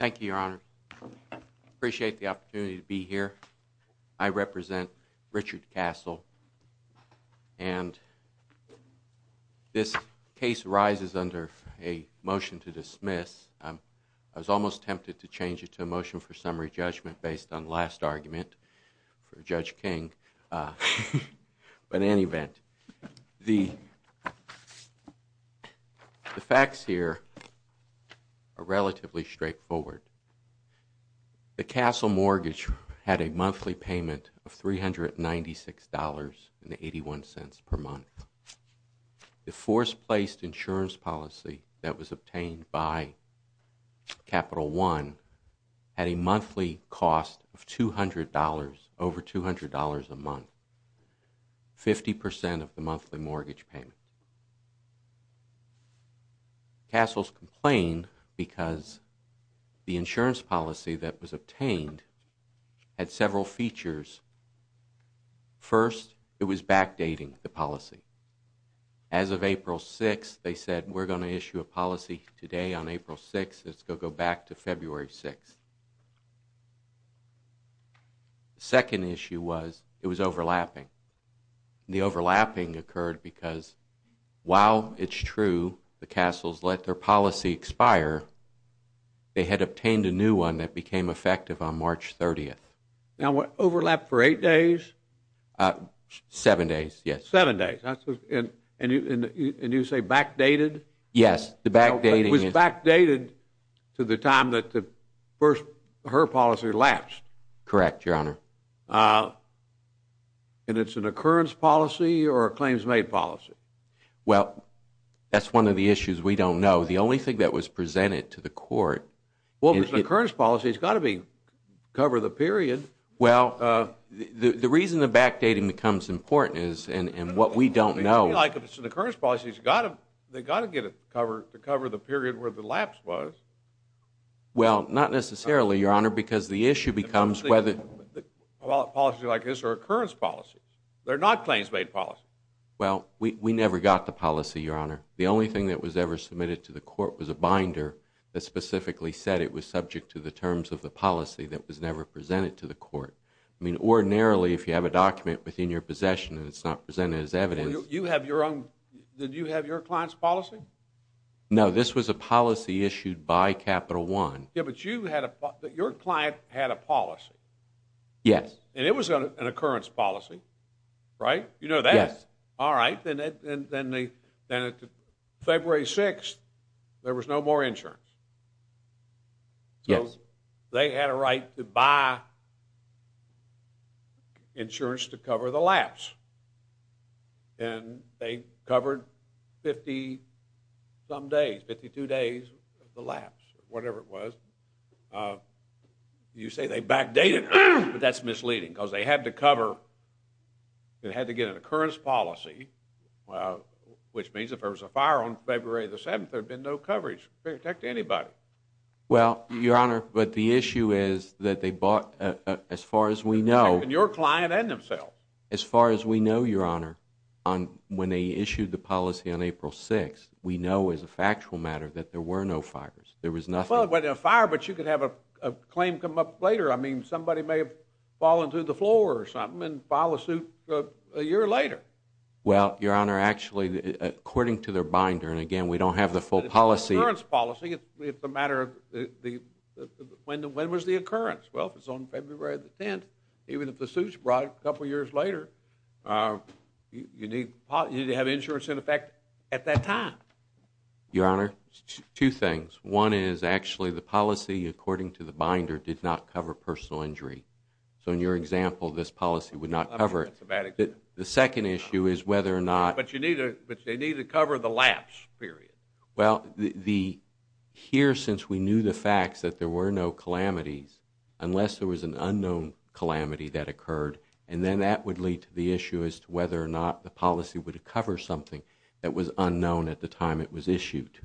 Thank you, Your Honor. I appreciate the opportunity to be here. I represent Richard Castle, and this case rises under a motion to dismiss. I was almost tempted to change it to a motion for summary judgment based on last argument for Judge King, but in any event, the facts here are relatively straightforward. The Castle mortgage had a monthly payment of $396.81 per month. The force-placed insurance policy that was obtained by Capital One had a monthly cost of $200, over $200 a month, 50% of the monthly mortgage payment. Castles complained because the insurance policy that was obtained had several features. First, it was backdating the policy. As of April 6th, they said, we're going to issue a policy today on April 6th, let's go back to February 6th. The second issue was, it was overlapping. The overlapping occurred because, while it's true the Castles let their policy expire, they had obtained a new one that became effective on March 30th. Now what, overlapped for eight days? Seven days, yes. Seven days. And you say backdated? Yes, the backdating is... It was backdated to the time that the first, her policy lapsed? Correct, Your Honor. And it's an occurrence policy or a claims-made policy? Well, that's one of the issues we don't know. The only thing that was presented to the court... Well, if it's an occurrence policy, it's got to cover the period. Well, the reason the backdating becomes important is, and what we don't know... It seems like if it's an occurrence policy, they've got to get it to cover the period where the lapse was. Well, not necessarily, Your Honor, because the issue becomes whether... Well, policies like this are occurrence policies. They're not claims-made policies. Well, we never got the policy, Your Honor. The only thing that was ever submitted to the court was a binder that specifically said it was subject to the terms of the policy that was never presented to the court. I mean, ordinarily, if you have a document within your possession and it's not presented as evidence... You have your own... Did you have your client's policy? No, this was a policy issued by Capital One. Yeah, but your client had a policy. Yes. And it was an occurrence policy, right? Yes. Alright, then February 6th, there was no more insurance. Yes. They had a right to buy insurance to cover the lapse. And they covered 50-some days, 52 days of the lapse, whatever it was. You say they backdated, but that's misleading because they had to cover... They had to get an occurrence policy, which means if there was a fire on February the 7th, there'd be no coverage to protect anybody. Well, Your Honor, but the issue is that they bought, as far as we know... Protecting your client and themselves. As far as we know, Your Honor, when they issued the policy on April 6th, we know as a factual matter that there were no fires. There was nothing... Well, there was a fire, but you could have a claim come up later. I mean, somebody may have fallen through the floor or something and filed a suit a year later. Well, Your Honor, actually, according to their binder, and again, we don't have the full policy... It's an occurrence policy. It's a matter of... When was the occurrence? Well, if it's on February the 10th, even if the suit's brought a couple years later, you need to have insurance in effect at that time. Your Honor, two things. One is, actually, the policy, according to the binder, did not cover personal injury. So in your example, this policy would not cover it. The second issue is whether or not... But they need to cover the lapse, period. Well, the... Here, since we knew the facts that there were no calamities, unless there was an unknown calamity that occurred, and then that would lead to the issue as to whether or not the policy would cover something that was unknown at the time it was issued.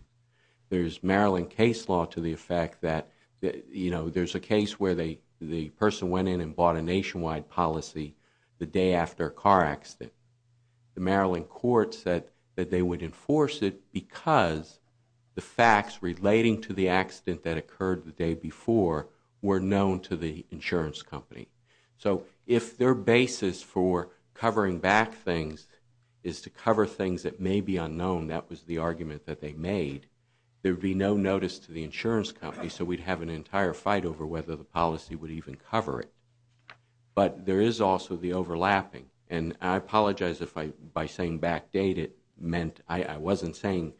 There's Maryland case law to the effect that, you know, there's a case where the person went in and bought a nationwide policy the day after a car accident. The Maryland court said that they would enforce it because the facts relating to the accident that occurred the day before were known to the insurance company. So if their basis for covering back things is to cover things that may be unknown, that was the argument that they made, there would be no notice to the insurance company, so we'd have an entire fight over whether the policy would even cover it. But there is also the overlapping. And I apologize if by saying backdate it meant... I wasn't saying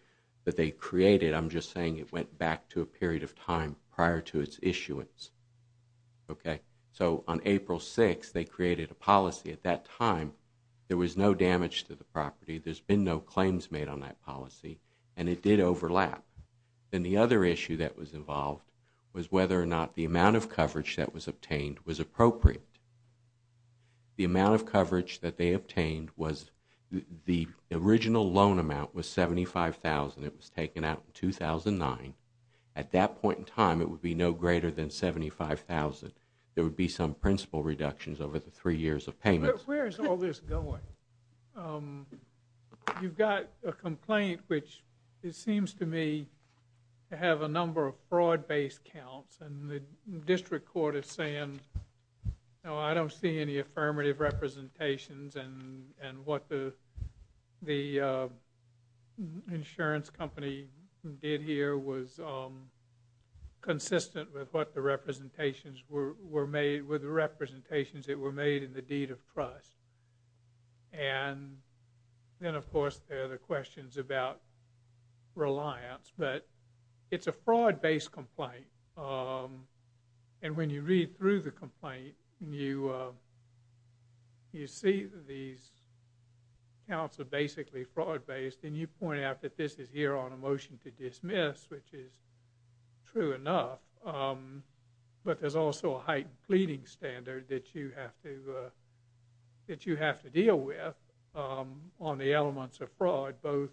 that they created, I'm just saying it went back to a period of time prior to its issuance. Okay? So on April 6, they created a policy at that time. There was no damage to the property, there's been no claims made on that policy, and it did overlap. And the other issue that was involved was whether or not the amount of coverage that was obtained was appropriate. The amount of coverage that they obtained was... The original loan amount was $75,000, it was taken out in 2009. At that point in time, it would be no greater than $75,000. There would be some principal reductions over the three years of payments. Where is all this going? You've got a complaint which, it seems to me, have a number of fraud-based counts, and the district court is saying, no, I don't see any affirmative representations, and what the insurance company did here was consistent with what the representations were made, with the representations that were made in the deed of trust. And then, of course, there are the questions about reliance, but it's a fraud-based complaint, and when you read through the complaint, you see these counts are basically fraud-based, and you point out that this is here on a motion to dismiss, which is true enough, but there's also a heightened pleading standard that you have to deal with on the elements of fraud, both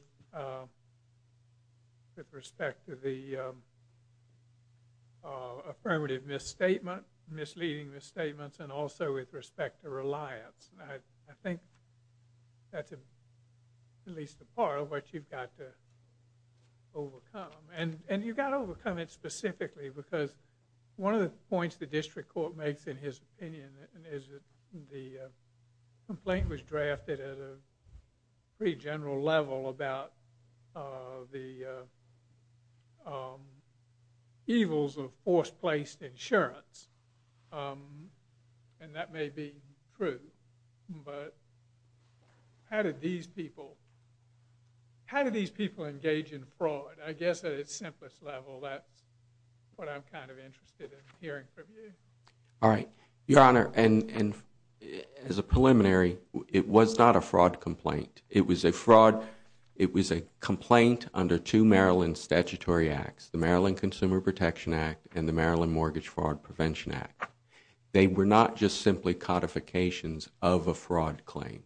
with respect to the affirmative misstatement, misleading misstatements, and also with respect to reliance. I think that's at least a part of what you've got to overcome. And you've got to overcome it specifically, because one of the points the district court makes in his opinion is that the complaint was drafted at a pretty general level about the evils of forced-placed insurance, and that may be true, but how do these people engage in fraud? I guess at its simplest level, that's what I'm kind of interested in hearing from you. All right. Your Honor, as a preliminary, it was not a fraud complaint. It was a complaint under two Maryland statutory acts, the Maryland Consumer Protection Act and the Maryland Mortgage Fraud Prevention Act. They were not just simply codifications of a fraud claim.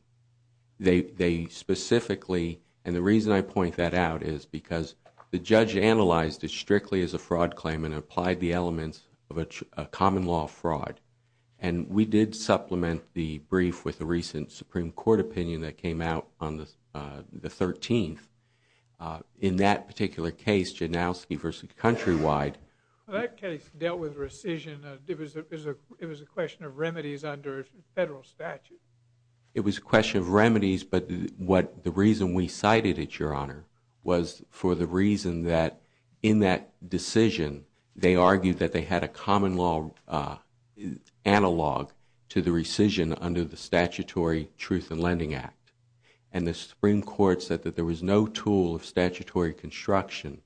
They specifically, and the reason I point that out is because the judge analyzed it strictly as a fraud claim and applied the elements of a common law fraud. And we did supplement the brief with a recent Supreme Court opinion that came out on the 13th. In that particular case, Janowski v. Countrywide... That case dealt with rescission. It was a question of remedies under federal statute. It was a question of remedies, but the reason we cited it, Your Honor, was for the reason that in that decision, they argued that they had a common law analog to the rescission under the Statutory Truth in Lending Act. And the Supreme Court said that there was no tool of statutory construction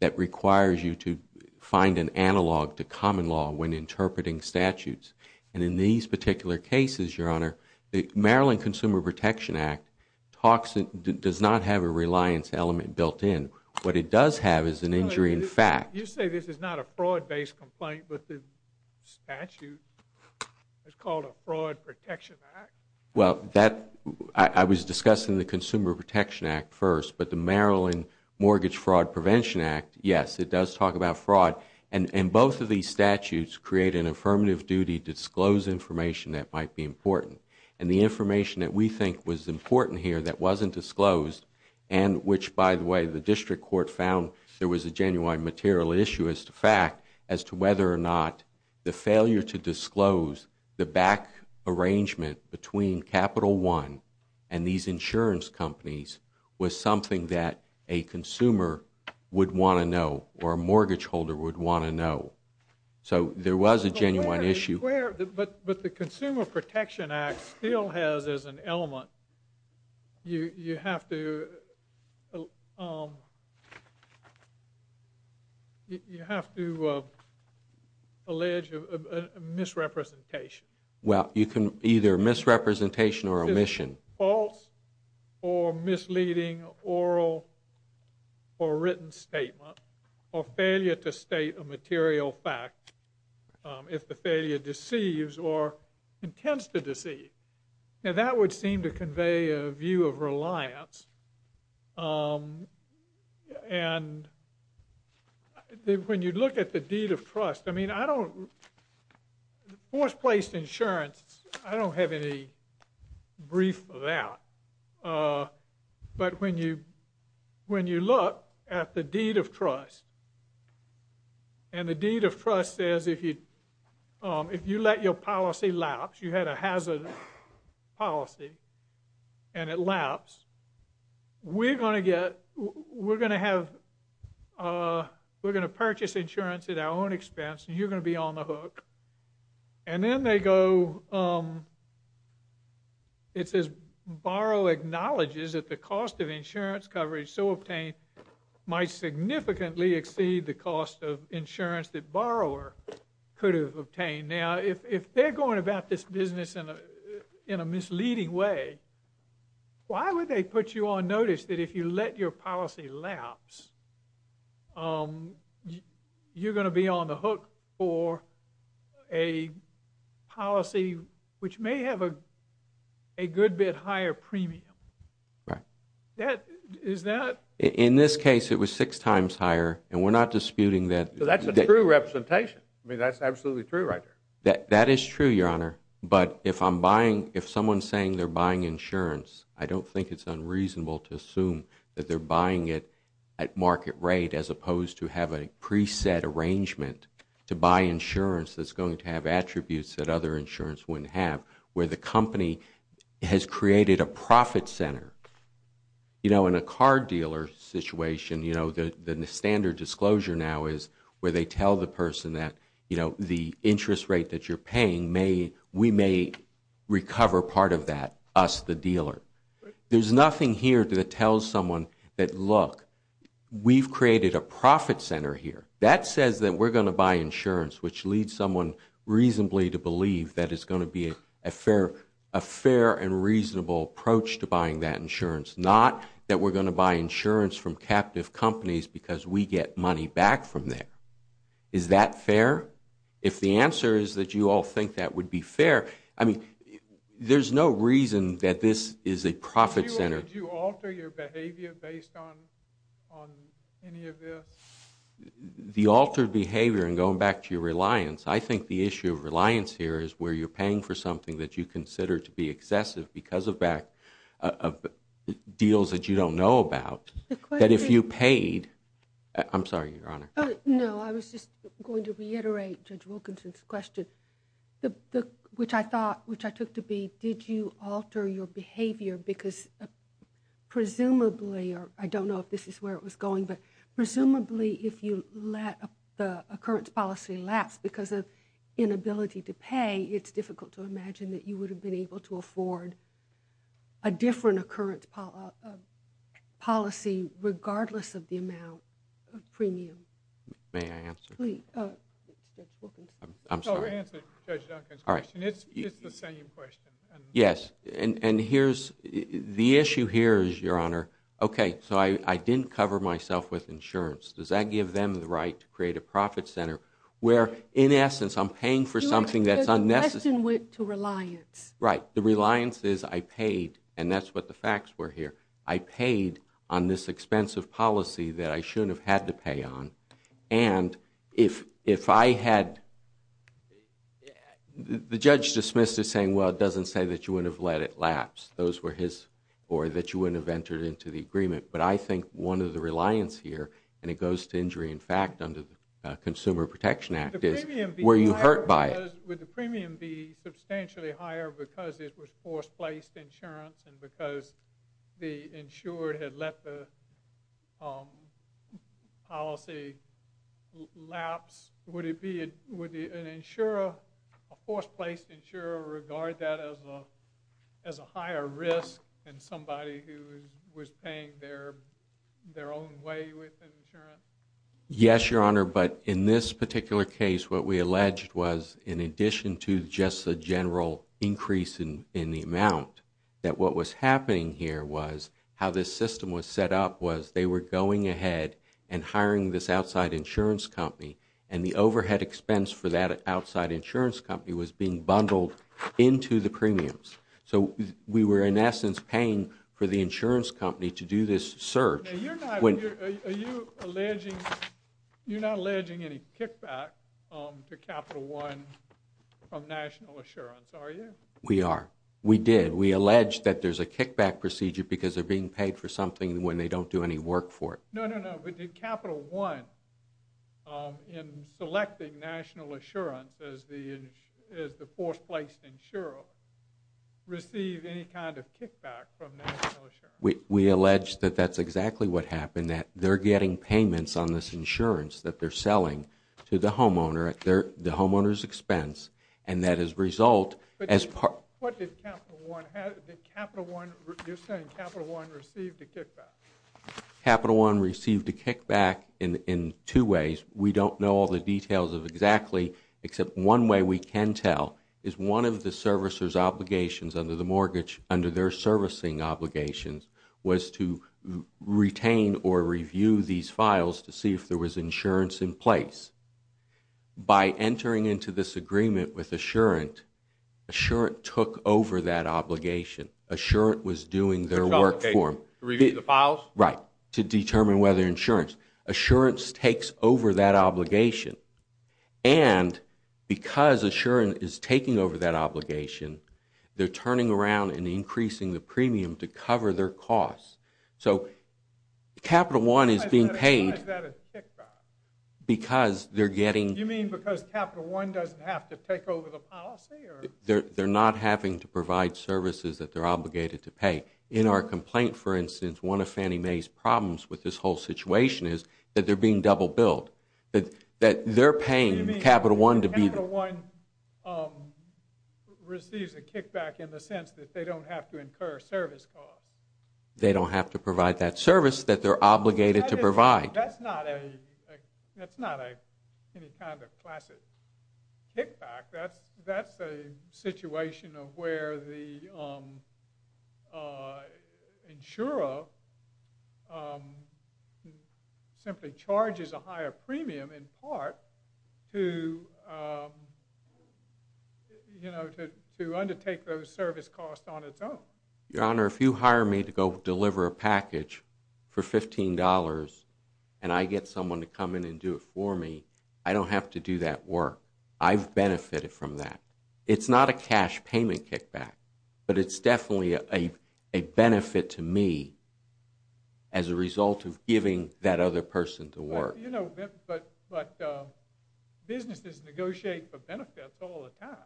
that requires you to find an analog to common law when interpreting statutes. And in these particular cases, Your Honor, the Maryland Consumer Protection Act does not have a reliance element built in. What it does have is an injury in fact. You say this is not a fraud-based complaint, but the statute is called a Fraud Protection Act? Well, I was discussing the Consumer Protection Act first, but the Maryland Mortgage Fraud Prevention Act, yes, it does talk about fraud. And both of these statutes create an affirmative duty to disclose information that might be important. And the information that we think was important here that wasn't disclosed and which, by the way, the district court found there was a genuine material issue as to fact as to whether or not the failure to disclose the back arrangement between Capital One and these insurance companies was something that a consumer would want to know or a mortgage holder would want to know. So there was a genuine issue. But the Consumer Protection Act still has as an element, you have to... you have to allege a misrepresentation. Well, you can either misrepresentation or omission. False or misleading oral or written statement or failure to state a material fact if the failure deceives or intends to deceive. Now, that would seem to convey a view of reliance. And when you look at the deed of trust, I mean, I don't... Force-placed insurance, I don't have any brief for that. But when you look at the deed of trust, and the deed of trust says, if you let your policy lapse, you had a hazard policy and it lapse, we're going to get... we're going to have... we're going to purchase insurance at our own expense and you're going to be on the hook. And then they go... it says, borrow acknowledges that the cost of insurance coverage so obtained might significantly exceed the cost of insurance that borrower could have obtained. Now, if they're going about this business in a misleading way, why would they put you on notice that if you let your policy lapse, you're going to be on the hook for a policy which may have a good bit higher premium? Right. Is that... In this case, it was six times higher and we're not disputing that... So that's a true representation. I mean, that's absolutely true right there. That is true, Your Honor. But if I'm buying... if someone's saying they're buying insurance, I don't think it's unreasonable to assume that they're buying it at market rate as opposed to have a pre-set arrangement to buy insurance that's going to have attributes that other insurance wouldn't have, where the company has created a profit center. You know, in a car dealer situation, you know, the standard disclosure now is where they tell the person that, you know, the interest rate that you're paying may... we may recover part of that, us, the dealer. There's nothing here that tells someone that, look, we've created a profit center here. That says that we're going to buy insurance, which leads someone reasonably to believe that it's going to be a fair... a fair and reasonable approach to buying that insurance, not that we're going to buy insurance from captive companies because we get money back from there. Is that fair? If the answer is that you all think that would be fair... I mean, there's no reason that this is a profit center. Would you alter your behavior based on... on any of this? The altered behavior, and going back to your reliance, I think the issue of reliance here is where you're paying for something that you consider to be excessive because of deals that you don't know about, that if you paid... I'm sorry, Your Honor. No, I was just going to reiterate Judge Wilkinson's question, which I thought... which I took to be, did you alter your behavior because presumably, or I don't know if this is where it was going, but presumably if you let the occurrence policy lapse because of inability to pay, it's difficult to imagine that you would have been able to afford a different occurrence policy regardless of the amount of premium. May I answer? I'm sorry. It's the same question. The issue here is, Your Honor, okay, so I didn't cover myself with insurance. Does that give them the right to create a profit center where, in essence, I'm paying for something that's unnecessary? Your question went to reliance. Right. The reliance is I paid, and that's what the facts were here. I paid on this expensive policy that I shouldn't have had to pay on. And if I had... the judge dismissed it saying, well, it doesn't say that you would have let it lapse. Those were his... or that you wouldn't have entered into the agreement. But I think one of the reliance here, and it goes to injury in fact under the Consumer Protection Act, is were you hurt by it? Would the premium be substantially higher because it was forced-placed insurance and because the insured had let the policy lapse? Would an insurer, a forced-placed insurer, regard that as a higher risk than somebody who was paying their own way with insurance? Yes, Your Honor, but in this particular case, what we alleged was, in addition to just a general increase in the amount, that what was happening here was how this system was set up was they were going ahead and hiring this outside insurance company, and the overhead expense for that outside insurance company was being bundled into the premiums. So we were in essence paying for the insurance company to do this surge. Now you're not... are you alleging you're not alleging any kickback to Capital One from National Assurance, are you? We are. We did. We alleged that there's a kickback procedure because they're being paid for something when they don't do any work for it. No, no, no, but did Capital One in selecting National Assurance as the forced-placed insurer receive any kind of kickback from National Assurance? We allege that that's exactly what happened, that they're getting payments on this insurance that they're selling to the homeowner at the homeowner's expense, and that is result as part... What did Capital One... did Capital One you're saying Capital One received a kickback? Capital One received a kickback in two ways. We don't know all the details of exactly except one way we can tell is one of the servicer's obligations under the mortgage, under their servicing obligations, was to retain or review these files to see if there was insurance in place. By entering into this agreement with Assurant Assurant took over that obligation. Assurant was doing their work for them. To review the files? Right. To determine whether insurance... Assurance takes over that obligation and because Assurant is taking over that obligation, they're turning around and increasing the premium to cover their costs. So Capital One is being paid... Why is that a kickback? Because they're getting... You mean because Capital One doesn't have to take over the policy? They're not having to provide services that they're obligated to pay. In our complaint for instance one of Fannie Mae's problems with this whole situation is that they're being double billed. That they're paying Capital One to be... You mean Capital One receives a kickback in the sense that they don't have to incur service costs? They don't have to provide that service that they're obligated to provide. That's not any kind of classic kickback. That's a situation of where the insurer simply charges a higher premium in part to undertake those service costs on its own. Your Honor, if you hire me to go deliver a package for $15 and I get someone to come in and do it for me, I don't have to do that work. I've benefited from that. It's not a cash payment kickback. But it's definitely a benefit to me as a result of giving that other person to work. But businesses negotiate for benefits all the time.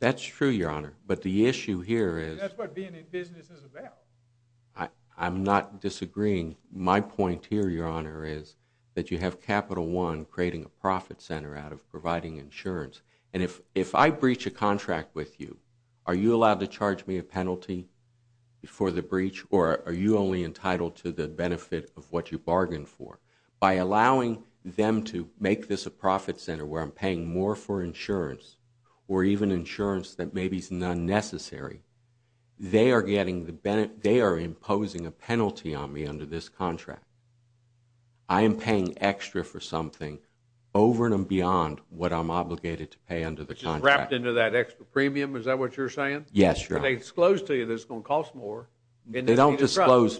That's true, Your Honor. But the issue here is... That's what being in business is about. I'm not disagreeing. My point here, Your Honor, is that you have Capital One creating a profit center out of providing insurance. And if I breach a contract with you, are you allowed to charge me a penalty for the breach, or are you only entitled to the benefit of what you bargained for? By allowing them to make this a profit center where I'm paying more for insurance, or even insurance that maybe is unnecessary, they are imposing a penalty on me under this contract. I am paying extra for something over and beyond what I'm obligated to pay under the contract. Which is wrapped into that extra premium, is that what you're saying? Yes, Your Honor. They disclose to you that it's going to cost more. But they don't disclose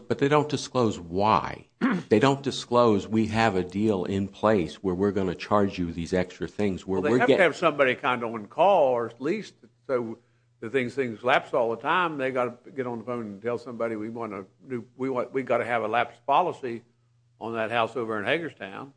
why. They don't disclose, we have a deal in place where we're going to charge you these extra things. Well, they have to have somebody kind of on call, or at least, so things lapse all the time, they've got to get on the phone and tell somebody we've got to have a lapse policy on that house over in Hagerstown.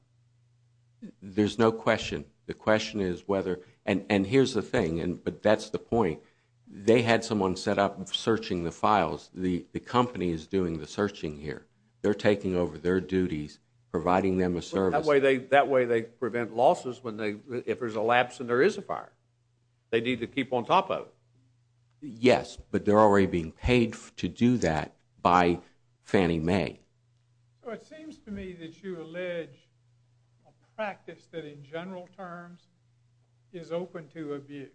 There's no question. The question is whether, and here's the thing, but that's the point. They had someone set up searching the files. The company is doing the searching here. They're taking over their duties, providing them a service. That way they prevent losses if there's a lapse and there is a fire. They need to keep on top of it. Yes, but they're already being paid to do that by Fannie Mae. It seems to me that you allege a practice that in general terms is open to abuse.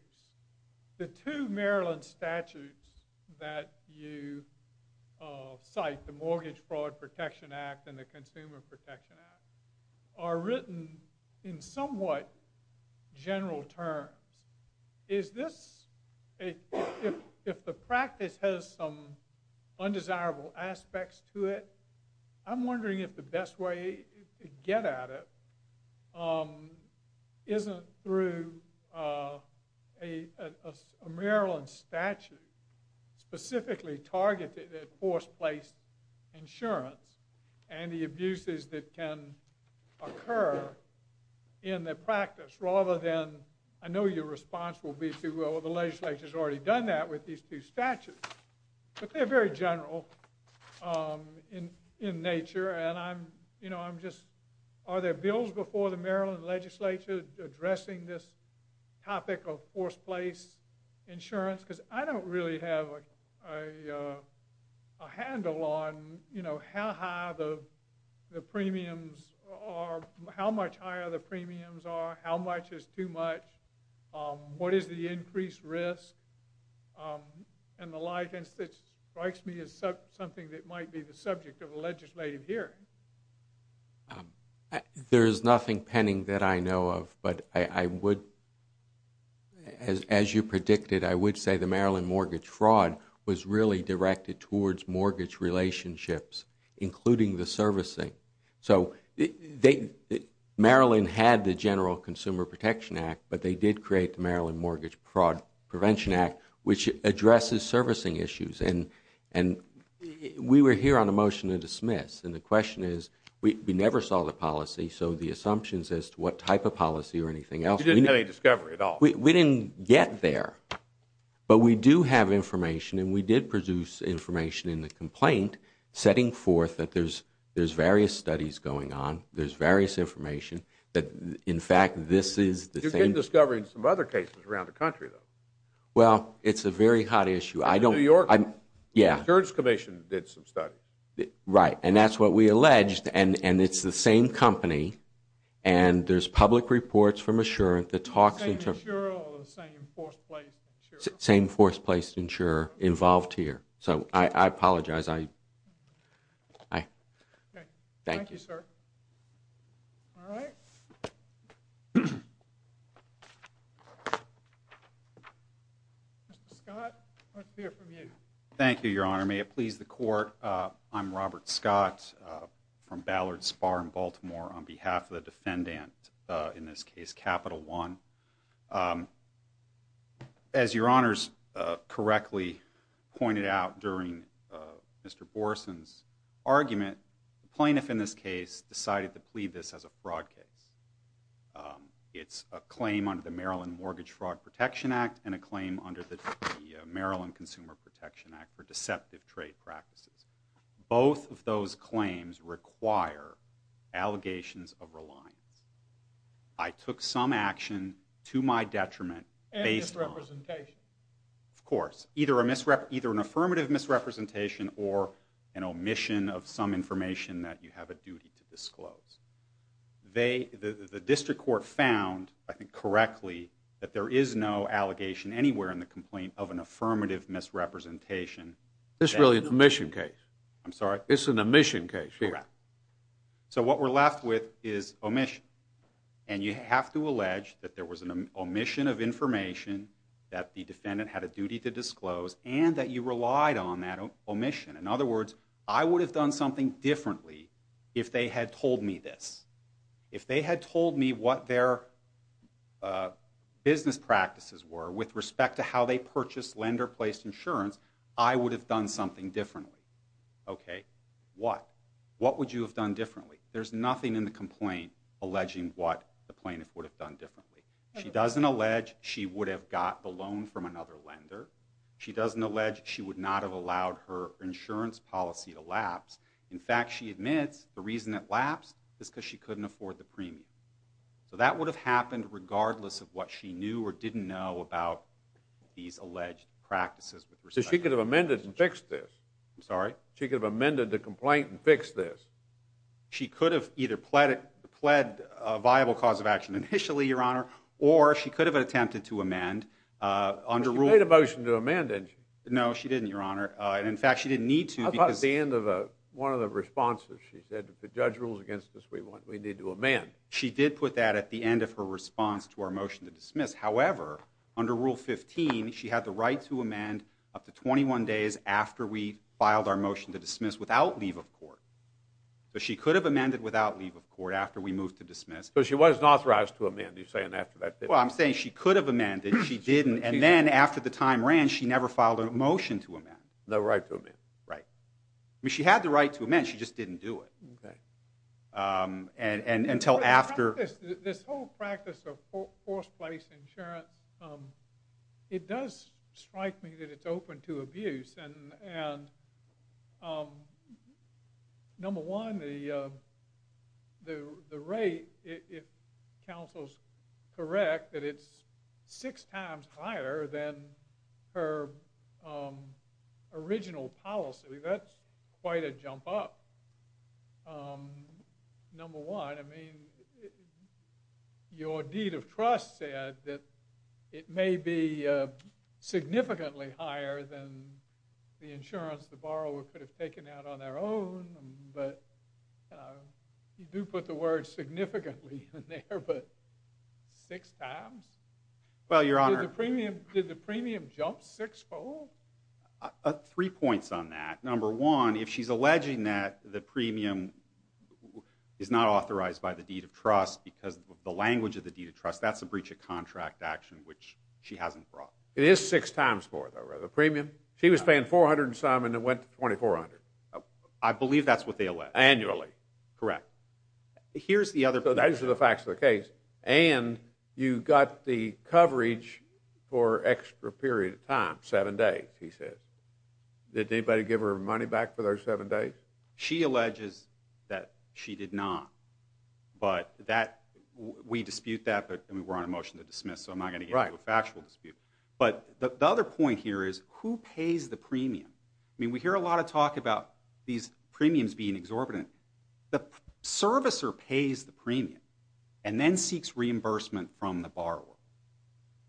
The two Maryland statutes that you cite, the Mortgage Fraud Protection Act and the Consumer Protection Act, are written in somewhat general terms. Is this, if the practice has some undesirable aspects to it, I'm wondering if the best way to get at it isn't through a Maryland statute specifically targeted at force-placed insurance and the abuses that can occur in the practice rather than, I know your response will be to, well the legislature's already done that with these two statutes, but they're very general in nature and I'm just, are there bills before the Maryland legislature addressing this topic of force-placed insurance? Because I don't really have a handle on how high the premiums are, how much higher the premiums are, how much is too much, what is the increased risk, and the license strikes me as something that might be the subject of a legislative hearing. There's nothing pending that I know of but I would, as you predicted, I would say the Maryland mortgage fraud was really directed towards mortgage relationships including the servicing. Maryland had the General Consumer Protection Act but they did create the Maryland Mortgage Fraud Prevention Act which addresses servicing issues and we were here on a motion to dismiss and the question is, we never saw the policy so the assumptions as to what type of policy or anything else. You didn't have any discovery at all? We didn't get there but we do have information and we did produce information in the complaint setting forth that there's various studies going on, there's various information that in fact this is the same. You're getting discovery in some other cases around the country though. Well, it's a very hot issue. New York Insurance Commission did some studies. Right, and that's what we alleged and it's the same company and there's public reports from Assurant that talks... Same Assurant or the same forced place insurer? Same forced place insurer involved here. So, I apologize. Thank you, sir. Alright. Mr. Scott, I'd like to hear from you. Thank you, Your Honor. May it please the Court. I'm Robert Scott from Ballard Spa in Baltimore on behalf of the defendant, in this case, Capital One. As Your Honor's correctly pointed out during Mr. Boreson's argument, the plaintiff in this case decided to plead this as a fraud case. It's a claim under the Maryland Mortgage Fraud Protection Act and a claim under the Maryland Consumer Protection Act for deceptive trade practices. Both of those claims require allegations of reliance. I took some action to my detriment based on... And misrepresentation. Of course. Either an affirmative misrepresentation or an omission of some information that you have a duty to disclose. The district court found, I think correctly, that there is no allegation anywhere in the complaint of an affirmative misrepresentation. It's really an omission case. I'm sorry? It's an omission case. Correct. So what we're left with is omission. And you have to allege that there was an omission of information that the defendant had a duty to disclose and that you relied on that omission. In other words, I would have done something differently if they had told me this. If they had told me what their business practices were with respect to how they purchased lender-placed insurance, I would have done something differently. Okay? What? What would you have done differently? There's nothing in the complaint alleging what the plaintiff would have done differently. She doesn't allege she would have got the loan from another lender. She doesn't allege she would not have allowed her insurance policy to lapse. In fact, she admits the reason it lapsed is because she couldn't afford the premium. So that would have happened regardless of what she knew or didn't know about these alleged practices. So she could have amended and fixed this? I'm sorry? She could have amended the complaint and fixed this? She could have either pled a viable cause of action initially, Your Honor, or she could have attempted to amend under rule... She made a motion to amend, didn't she? No, she didn't, Your Honor. In fact, she didn't need to because... I thought at the end of one of the responses she said, if the judge rules against us, we need to amend. She did put that at the end of her response to our motion to dismiss. However, under rule 15, she had the right to amend up to 21 days after we filed our motion to dismiss without leave of court. So she could have amended without leave of court after we moved to dismiss. So she wasn't authorized to amend, you're saying, after that? Well, I'm saying she could have amended, she didn't, and then after the time ran, she never filed a motion to amend. No right to amend? Right. I mean, she had the right to amend, she just didn't do it. Okay. This whole practice of forced place insurance, it does strike me that it's open to abuse and number one, the rate, if counsel's correct, that it's six times higher than her original policy, that's quite a jump up. Number one, your deed of trust said that it may be significantly higher than the insurance the borrower could have taken out on their own, but you do put the word significantly in there, but six times? Did the premium jump six-fold? Three points on that. Number one, if she's alleging that the premium is not authorized by the deed of trust because of the language of the deed of trust, that's a breach of contract action which she hasn't brought. It is six times more though, rather. The premium, she was paying 400 and some and it went to 2400. I believe that's what they allege. Annually. Correct. Those are the facts of the case and you got the coverage for extra period of time, seven days, he says. Did anybody give her money back for those seven days? She alleges that she did not. We dispute that but we're on a motion to dismiss so I'm not going to get into a factual dispute. The other point here is who pays the premium? We hear a lot of talk about these premiums being exorbitant. The servicer pays the premium and then seeks reimbursement from the borrower.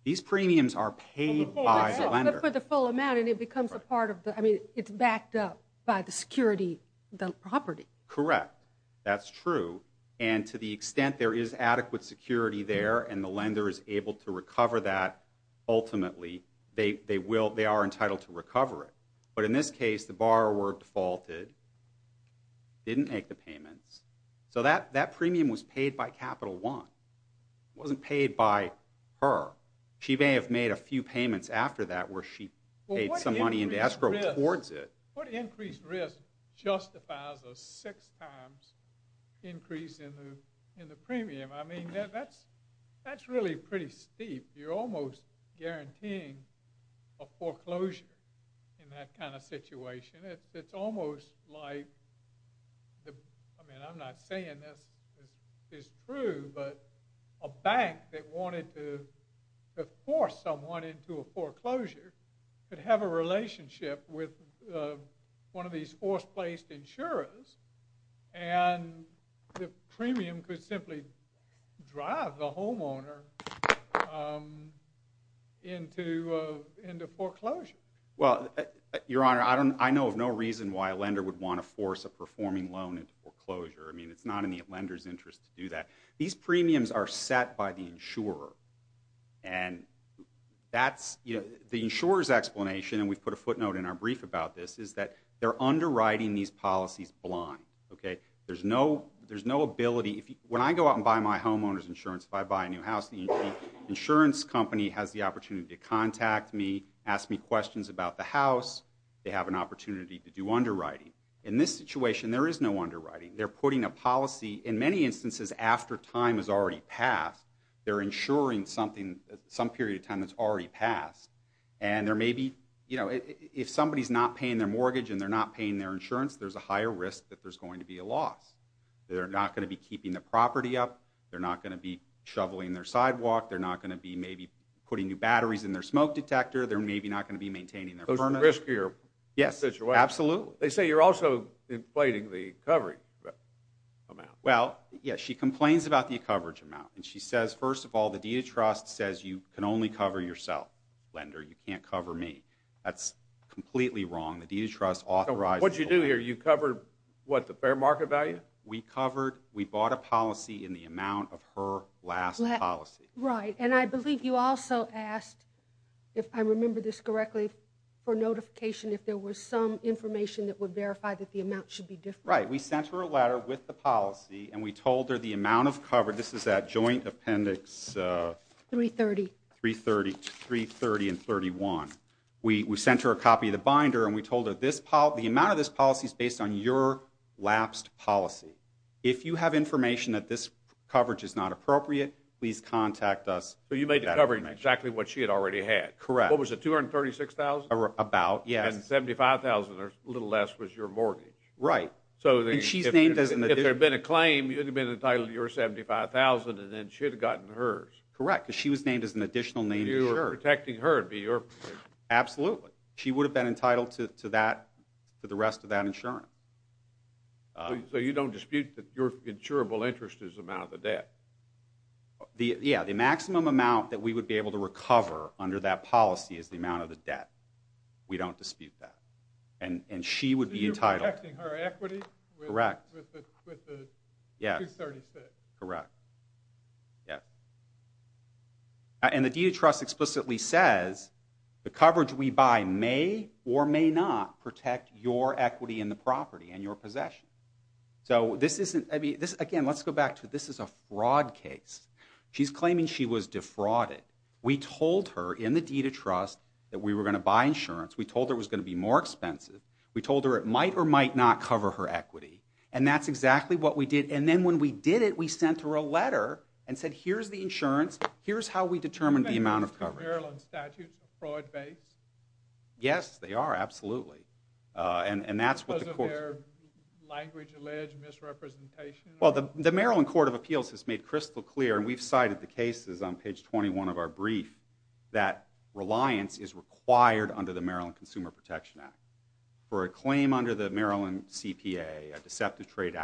These premiums are paid by the lender. It's backed up by the security of the property. Correct. That's true and to the extent there is adequate security there and the lender is able to recover that ultimately, they are entitled to recover it. But in this case, the borrower defaulted and didn't make the payments. That premium was paid by Capital One. It wasn't paid by her. She may have made a few payments after that where she paid some money into escrow towards it. What increased risk justifies a six times increase in the premium? That's really pretty steep. You're almost guaranteeing a foreclosure in that kind of situation. It's almost like I mean I'm not saying this is true but a bank that wanted to force someone into a foreclosure could have a relationship with one of these forced placed insurers and the premium could simply drive the into foreclosure. Your Honor, I know of no reason why a lender would want to force a performing loan into foreclosure. I mean it's not in the lender's interest to do that. These premiums are set by the insurer and the insurer's explanation and we've put a footnote in our brief about this is that they're underwriting these policies blind. There's no opportunity to contact me, ask me questions about the house. They have an opportunity to do underwriting. In this situation there is no underwriting. They're putting a policy in many instances after time has already passed they're insuring something some period of time that's already passed and there may be if somebody's not paying their mortgage and they're not paying their insurance there's a higher risk that there's going to be a loss. They're not going to be keeping the property up. They're not going to be putting new batteries in their smoke detector. They're maybe not going to be maintaining their furnace. Those are riskier situations. Yes, absolutely. They say you're also inflating the covering amount. Well, yes. She complains about the coverage amount and she says first of all the Deed of Trust says you can only cover yourself lender. You can't cover me. That's completely wrong. The Deed of Trust authorizes What did you do here? You covered what? The fair market value? We covered. We bought a policy in the amount of her last policy. Right. And I believe you also asked if I remember this correctly for notification if there was some information that would verify that the amount should be different. Right. We sent her a letter with the policy and we told her the amount of coverage. This is that joint appendix 330 330 and 31. We sent her a copy of the binder and we told her the amount of this policy is based on your lapsed policy. If you have information that this coverage is not appropriate please contact us. So you made the covering exactly what she had already had. Correct. What was it 236,000? About, yes. And 75,000 or a little less was your mortgage. Right. And she's named as an If there had been a claim, you would have been entitled to your 75,000 and then she would have gotten hers. Correct. Because she was named as an additional named insurer. You were protecting her to be your Absolutely. She would have been entitled to that to the rest of that insurance. So you don't dispute that your insurable interest is the amount of the debt? Yeah. The maximum amount that we would be able to recover under that policy is the amount of the debt. We don't dispute that. And she would be entitled. So you're protecting her equity? Correct. With the 236? Correct. Yeah. And the deed of trust explicitly says the coverage we buy may or may not protect your equity in the property and your possession. So this isn't, I mean, again, let's go back to this is a fraud case. She's claiming she was defrauded. We told her in the deed of trust that we were going to buy insurance. We told her it was going to be more expensive. We told her it might or might not cover her equity. And that's exactly what we did. And then when we did it, we sent her a letter and said, here's the insurance. Here's how we determined the amount of coverage. Are Maryland statutes fraud based? Yes, they are. Absolutely. Because of their language allege misrepresentation? Well, the Maryland Court of Appeals has made crystal clear, and we've cited the cases on page 21 of our brief, that reliance is required under the Maryland Consumer Protection Act. For a claim under the Maryland CPA, a deceptive trade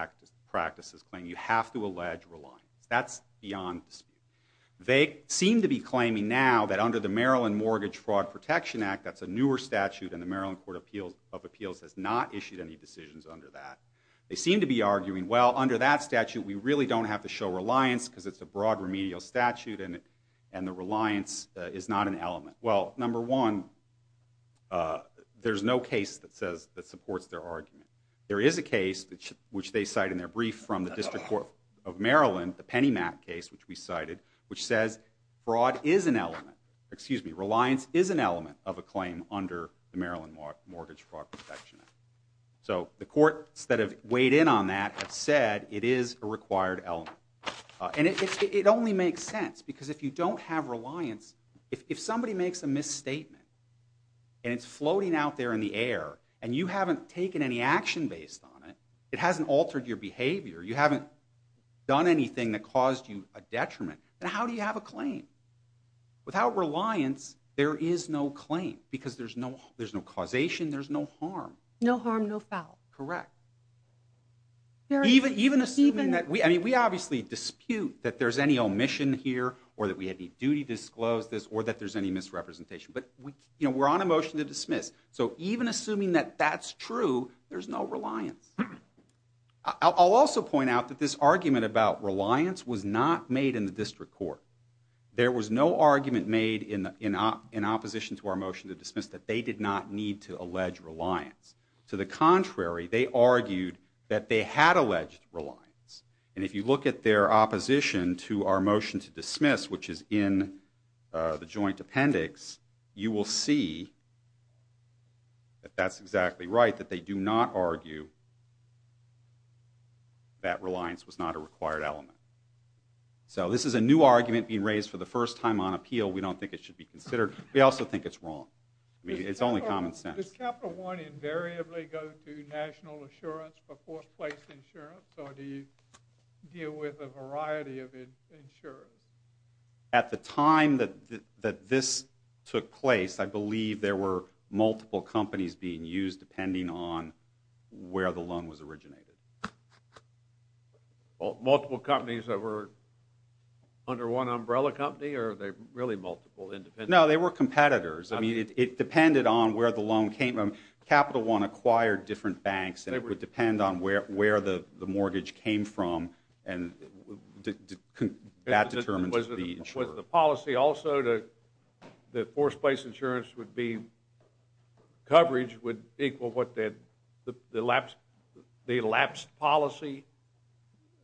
practices claim, you have to They seem to be claiming now that under the Maryland Mortgage Fraud Protection Act, that's a newer statute, and the Maryland Court of Appeals has not issued any decisions under that. They seem to be arguing, well, under that statute, we really don't have to show reliance because it's a broad remedial statute and the reliance is not an element. Well, number one, there's no case that supports their argument. There is a case which they cite in their brief from the District Court of Excuse me. Reliance is an element of a claim under the Maryland Mortgage Fraud Protection Act. So the courts that have weighed in on that have said it is a required element. And it only makes sense because if you don't have reliance, if somebody makes a misstatement and it's floating out there in the air and you haven't taken any action based on it, it hasn't altered your behavior, you haven't done anything that caused you a detriment, then how do you have a claim? Without reliance, there is no claim because there's no causation, there's no harm. No harm, no foul. Correct. We obviously dispute that there's any omission here or that we have any duty to disclose this or that there's any misrepresentation, but we're on a motion to dismiss. So even assuming that that's true, there's no reliance. I'll also point out that this argument about reliance was not made in the district court. There was no argument made in opposition to our motion to dismiss that they did not need to allege reliance. To the contrary, they argued that they had alleged reliance. And if you look at their opposition to our motion to dismiss, which is in the joint appendix, you will see that that's exactly right, that they do not argue that reliance was not a required element. So this is a new argument being raised for the first time on appeal. We don't think it should be considered. We also think it's wrong. I mean, it's only common sense. At the time that this took place, I believe there were multiple companies being used depending on where the loan was originated. No, they were competitors. I mean, it depended on where the loan came from. Capital One acquired different banks and it would depend on where the mortgage came from and that determined the insurer. The amount of coverage would equal what the elapsed policy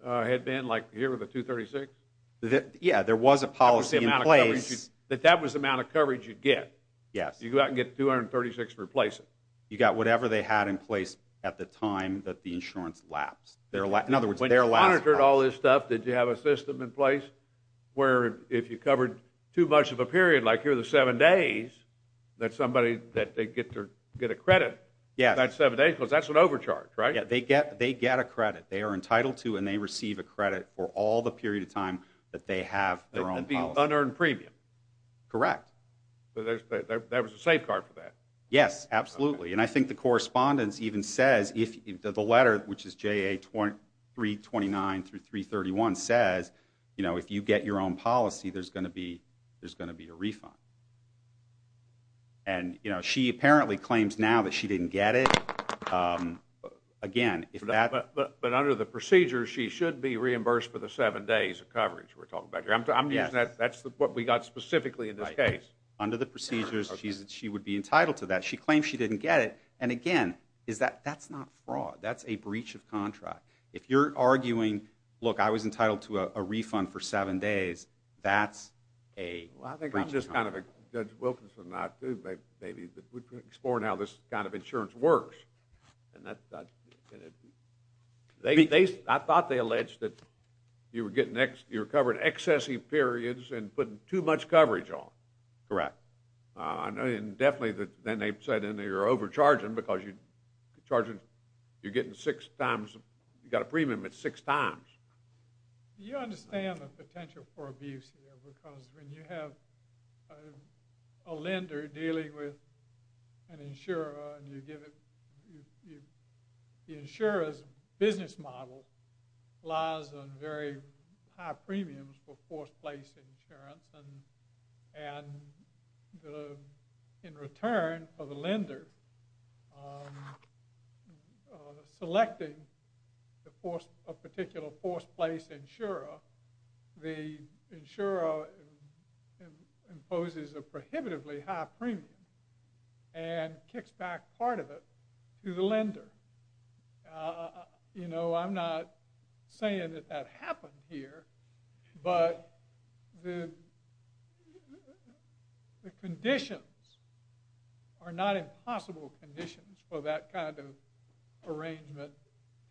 had been, like here with the 236? Yeah, there was a policy in place. That was the amount of coverage you'd get? Yes. You go out and get 236 and replace it? You got whatever they had in place at the time that the insurance lapsed. In other words, their last policy. When you monitored all this stuff, did you have a system in place where if you covered too much of a period, like here are the seven days, that somebody gets a credit for that seven days because that's an overcharge, right? Yeah, they get a credit. They are entitled to and they receive a credit for all the period of time that they have their own policy. That would be unearned premium? Correct. So that was a safeguard for that? Yes, absolutely. And I think the correspondence even says if the letter, which is JA 329-331 says if you get your own policy, there's going to be a refund. And she apparently claims now that she didn't get it. But under the procedures, she should be reimbursed for the seven days of coverage we're talking about here. That's what we got specifically in this case. Under the procedures, she would be entitled to that. She claims she didn't get it. And again, that's not fraud. That's a breach of contract. If you're arguing, look, I was entitled to a refund for seven days, that's a breach of contract. Judge Wilkinson and I were exploring how this kind of insurance works and I thought they alleged that you were covering excessive periods and putting too much coverage on. Correct. And definitely then they said you're overcharging because you're getting six times, you got a premium at six times. Do you understand the potential for abuse here? Because when you have a lender dealing with an insurer and you give it, the insurer's business model lies on very high premiums for forced place insurance and in return for the lender selecting a particular forced place insurer, the insurer imposes a prohibitively high premium and kicks back part of it to the lender. You know, I'm not saying that that happened here, but the conditions are not impossible conditions for that kind of arrangement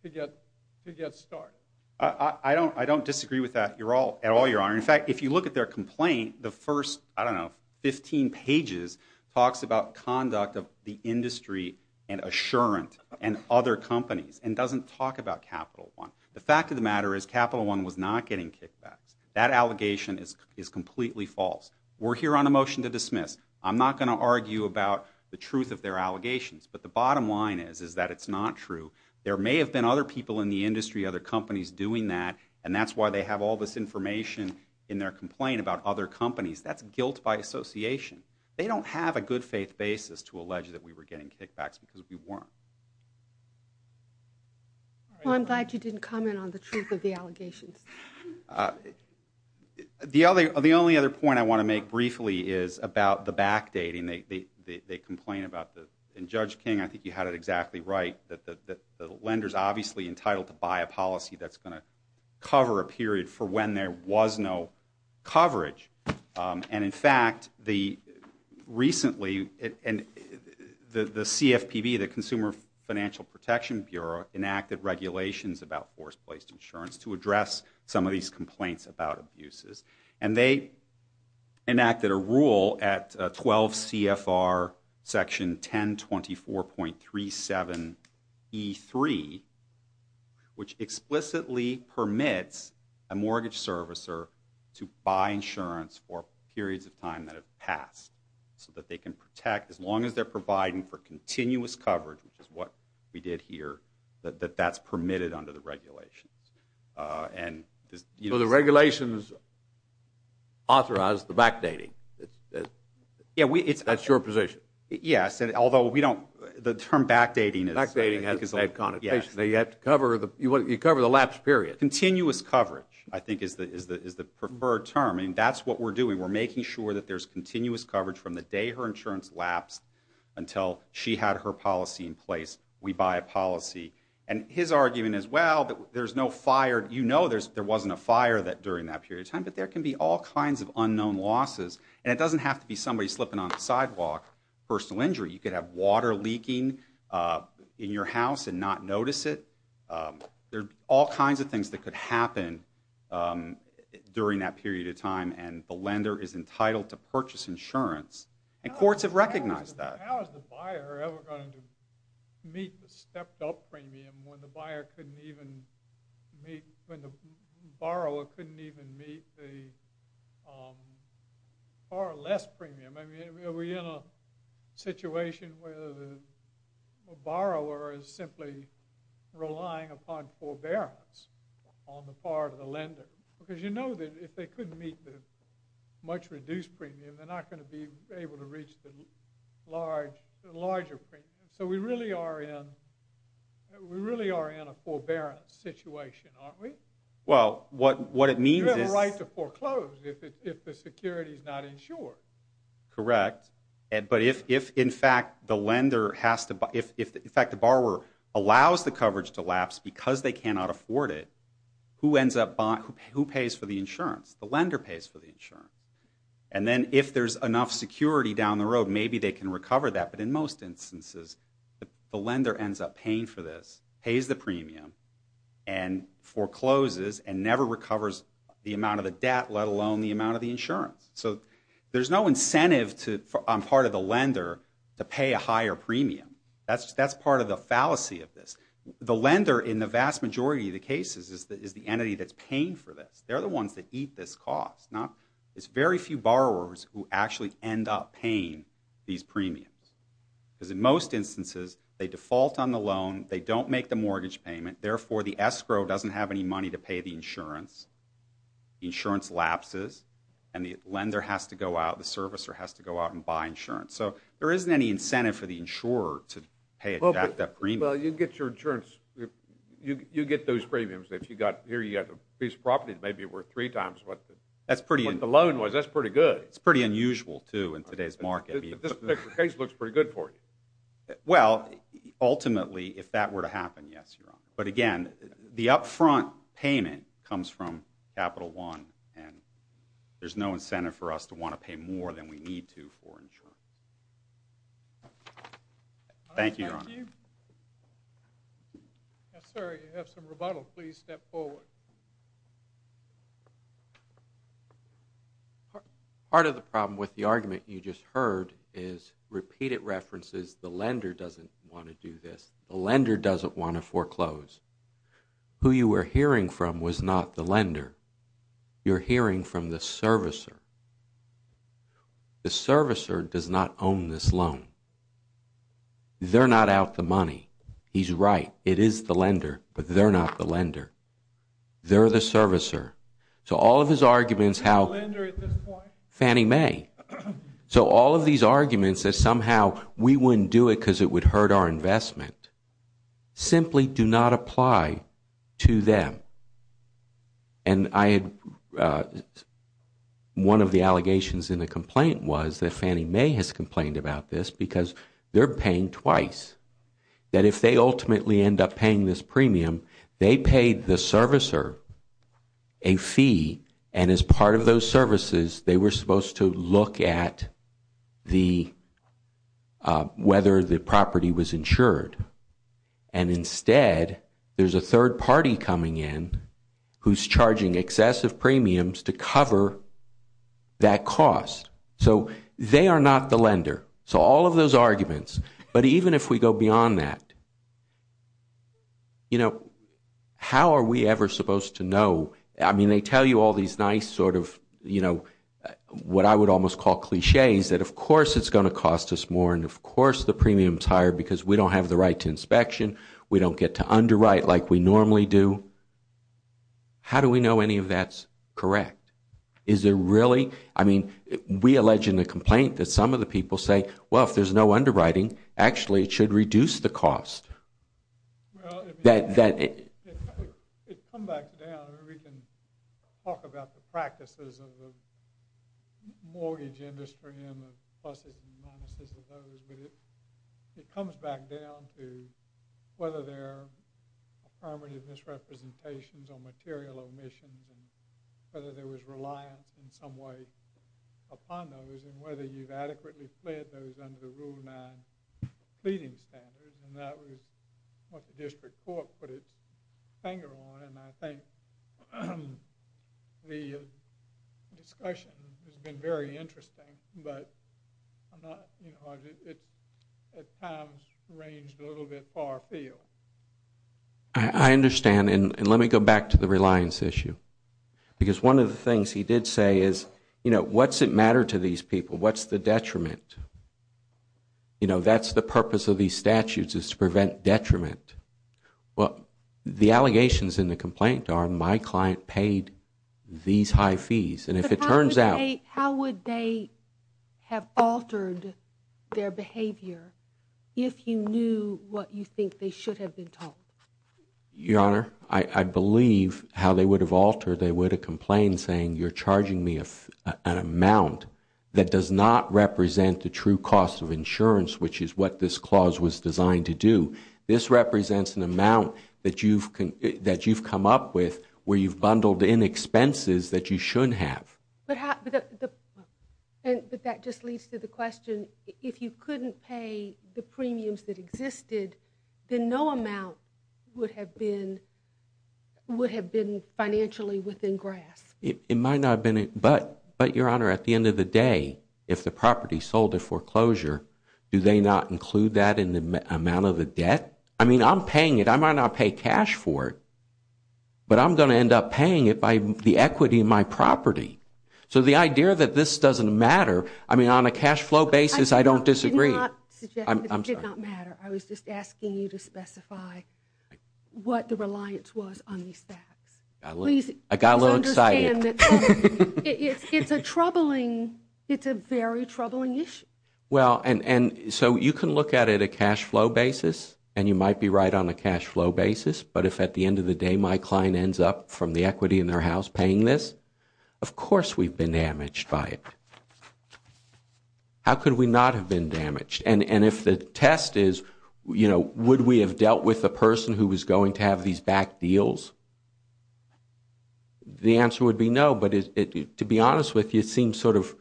to get started. I don't disagree with that at all, Your Honor. In fact, if you look at their complaint, the first, I don't know, 15 pages talks about conduct of the industry and Assurant and other companies and doesn't talk about Capital One. The fact of the matter is Capital One was not getting kickbacks. That allegation is completely false. We're here on a motion to dismiss. I'm not going to argue about the truth of their allegations, but the bottom line is that it's not true. There may have been other people in the industry, other companies doing that and that's why they have all this information in their complaint about other companies. That's guilt by association. They don't have a good faith basis to allege that we were getting kickbacks because we weren't. Well, I'm glad you didn't comment on the truth of the allegations. The only other point I want to make briefly is about the backdating. They complain about the, and Judge King, I think you had it exactly right, that the lender's obviously entitled to buy a policy that's going to cover a period for when there was no coverage. And in fact, the CFPB, the Consumer Financial Protection Bureau, enacted regulations about force-placed insurance to address some of these complaints about abuses. And they enacted a rule at 12 CFR section 1024.37 E3, which explicitly permits a mortgage servicer to buy insurance for periods of time that have no coverage. So the regulations authorize the backdating. That's your position? Yes. You cover the lapse period. Continuous coverage, I think, is the preferred term. That's what we're doing. We're making sure that there's continuous coverage from the day her insurance lapsed until she had her policy in place. We buy a policy. And his argument is, well, there's no fire. You know there wasn't a fire during that period of time. But there can be all kinds of unknown losses. And it doesn't have to be somebody slipping on the sidewalk, personal injury. You could have water leaking in your house and not notice it. There are all kinds of things that could happen during that period of time. And the lender is entitled to purchase insurance. And courts have recognized that. How is the buyer ever going to meet the stepped up premium when the borrower couldn't even meet the far less premium? Are we in a situation where the borrower is simply relying upon forbearance on the part of the lender? Because you know that if they couldn't meet the much reduced premium, they're not going to be able to reach the larger premium. So we really are in a forbearance situation, aren't we? You have a right to foreclose if the security is not insured. Correct. But if in fact the borrower allows the coverage to lapse because they cannot afford it, who pays for the insurance? The lender pays for the insurance. And then if there's enough security down the road, maybe they can recover that. But in most instances, the lender ends up paying for this, pays the premium, and forecloses and never recovers the amount of the debt, let alone the amount of the insurance. So there's no incentive on part of the lender to pay a higher premium. That's part of the fallacy of this. The lender, in the vast majority of the cases, is the entity that's paying for this. They're the ones that eat this cost. It's very few borrowers who actually end up paying these premiums. Because in most instances, they default on the loan, they don't make the mortgage payment, therefore the escrow doesn't have any money to pay the insurance. Insurance lapses and the lender has to go out, the servicer has to go out and buy insurance. So there isn't any incentive for the insurer to pay a jacked up premium. You get those premiums. If you got a piece of property that may be worth three times what the loan was, that's pretty good. It's pretty unusual too in today's market. This particular case looks pretty good for you. Well, ultimately, if that were to happen, yes, Your Honor. But again, the upfront payment comes from Capital One and there's no incentive for us to want to pay more than we need to for insurance. Thank you, Your Honor. Sir, you have some rebuttal. Please step forward. Part of the problem with the argument you just heard is repeated references, the lender doesn't want to do this. The lender doesn't want to foreclose. Who you were hearing from was not the lender. You're hearing from the servicer. The servicer does not own this loan. They're not out the money. He's right. It is the lender, but they're not the lender. They're the servicer. So all of his arguments, how Fannie Mae. So all of these arguments that somehow we wouldn't do it because it would hurt our investment simply do not apply to them. One of the allegations in the complaint was that Fannie Mae has complained about this because they're paying twice. That if they ultimately end up paying this premium, they paid the servicer a fee and as part of those services, they were supposed to look at the whether the property was insured and instead there's a third party coming in who's charging excessive premiums to cover that cost. So they are not the lender. So all of those arguments, but even if we go beyond that, you know, how are we ever supposed to know? I mean, they tell you all these nice sort of, you know, what I would almost call cliches that of course it's going to cost us more and of course the premium's higher because we don't have the right to inspection. We don't get to underwrite like we normally do. How do we know any of that's correct? Is there really? I mean, we allege in the complaint that some of the people say, well, if there's no underwriting, actually it should reduce the cost. That it would come back down and we can talk about the practices of the mortgage industry and the pluses and minuses of those, but it comes back down to whether there are affirmative misrepresentations on material omissions and whether there was reliance in some way upon those and whether you've adequately fled those under the Rule 9 pleading standards and that was what the district court put its finger on and I think the discussion has been very interesting, but it's at times ranged a little bit far afield. I understand and let me go back to the reliance issue because one of the things he did say is you know, what's it matter to these people? What's the detriment? You know, that's the purpose of these statutes is to prevent detriment. The allegations in the complaint are my client paid these high fees and if it turns out How would they have altered their behavior if you knew what you think they should have been taught? Your Honor, I believe how they would have altered, they would have complained saying you're charging me an amount that does not represent the true cost of insurance, which is what this clause was designed to do. This represents an amount that you've come up with where you've bundled in expenses that you should have. But that just leads to the question if you couldn't pay the premiums that existed then no amount would have been financially within grasp. It might not have been, but Your Honor at the end of the day, if the property sold a foreclosure do they not include that in the amount of the debt? I mean, I'm paying it. I might not pay cash for it but I'm going to end up paying it by the equity in my property. So the idea that this doesn't matter, I mean on a cash flow basis I don't disagree. I'm sorry. It did not matter. I was just asking you to specify what the reliance was on these facts. I got a little excited. It's a troubling, it's a very troubling issue. So you can look at it a cash flow basis and you might be right on a cash flow basis, but if at the end of the day my client ends up from the equity in their house paying this of course we've been damaged by it. How could we not have been damaged? And if the test is, would we have dealt with the person who was going to have these back deals? The answer would be no, but to be honest with you it seems sort of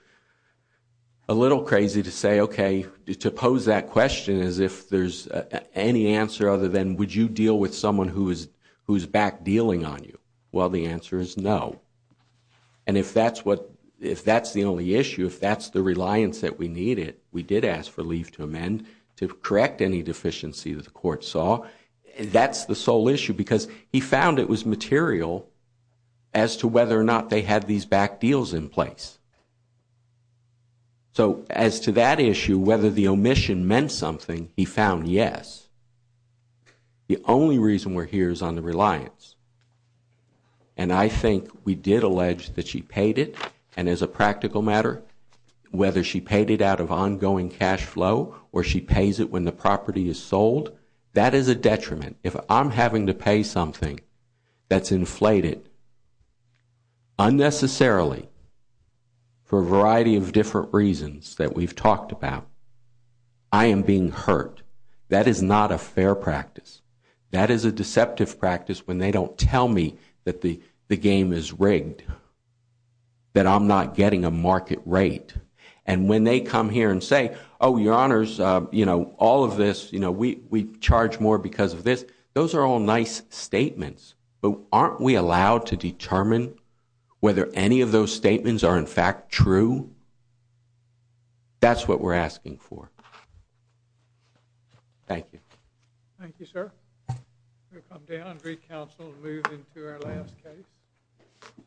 a little crazy to say, okay, to pose that question as if there's any answer other than would you deal with someone who is back dealing on you? Well, the answer is no. And if that's the only issue, if that's the reliance that we needed, we did ask for leave to amend to correct any deficiency that the court saw. Now, that's the sole issue because he found it was material as to whether or not they had these back deals in place. So as to that issue, whether the omission meant something, he found yes. The only reason we're here is on the reliance. And I think we did allege that she paid it, and as a practical matter whether she paid it out of ongoing cash flow or she pays it when the property is sold, that is a detriment. If I'm having to pay something that's inflated unnecessarily for a variety of different reasons that we've talked about, I am being hurt. That is not a fair practice. That is a deceptive practice when they don't tell me that the game is rigged, that I'm not getting a market rate. And when they come here and say, we charge more because of this, those are all nice statements, but aren't we allowed to determine whether any of those statements are in fact true? That's what we're asking for. Thank you.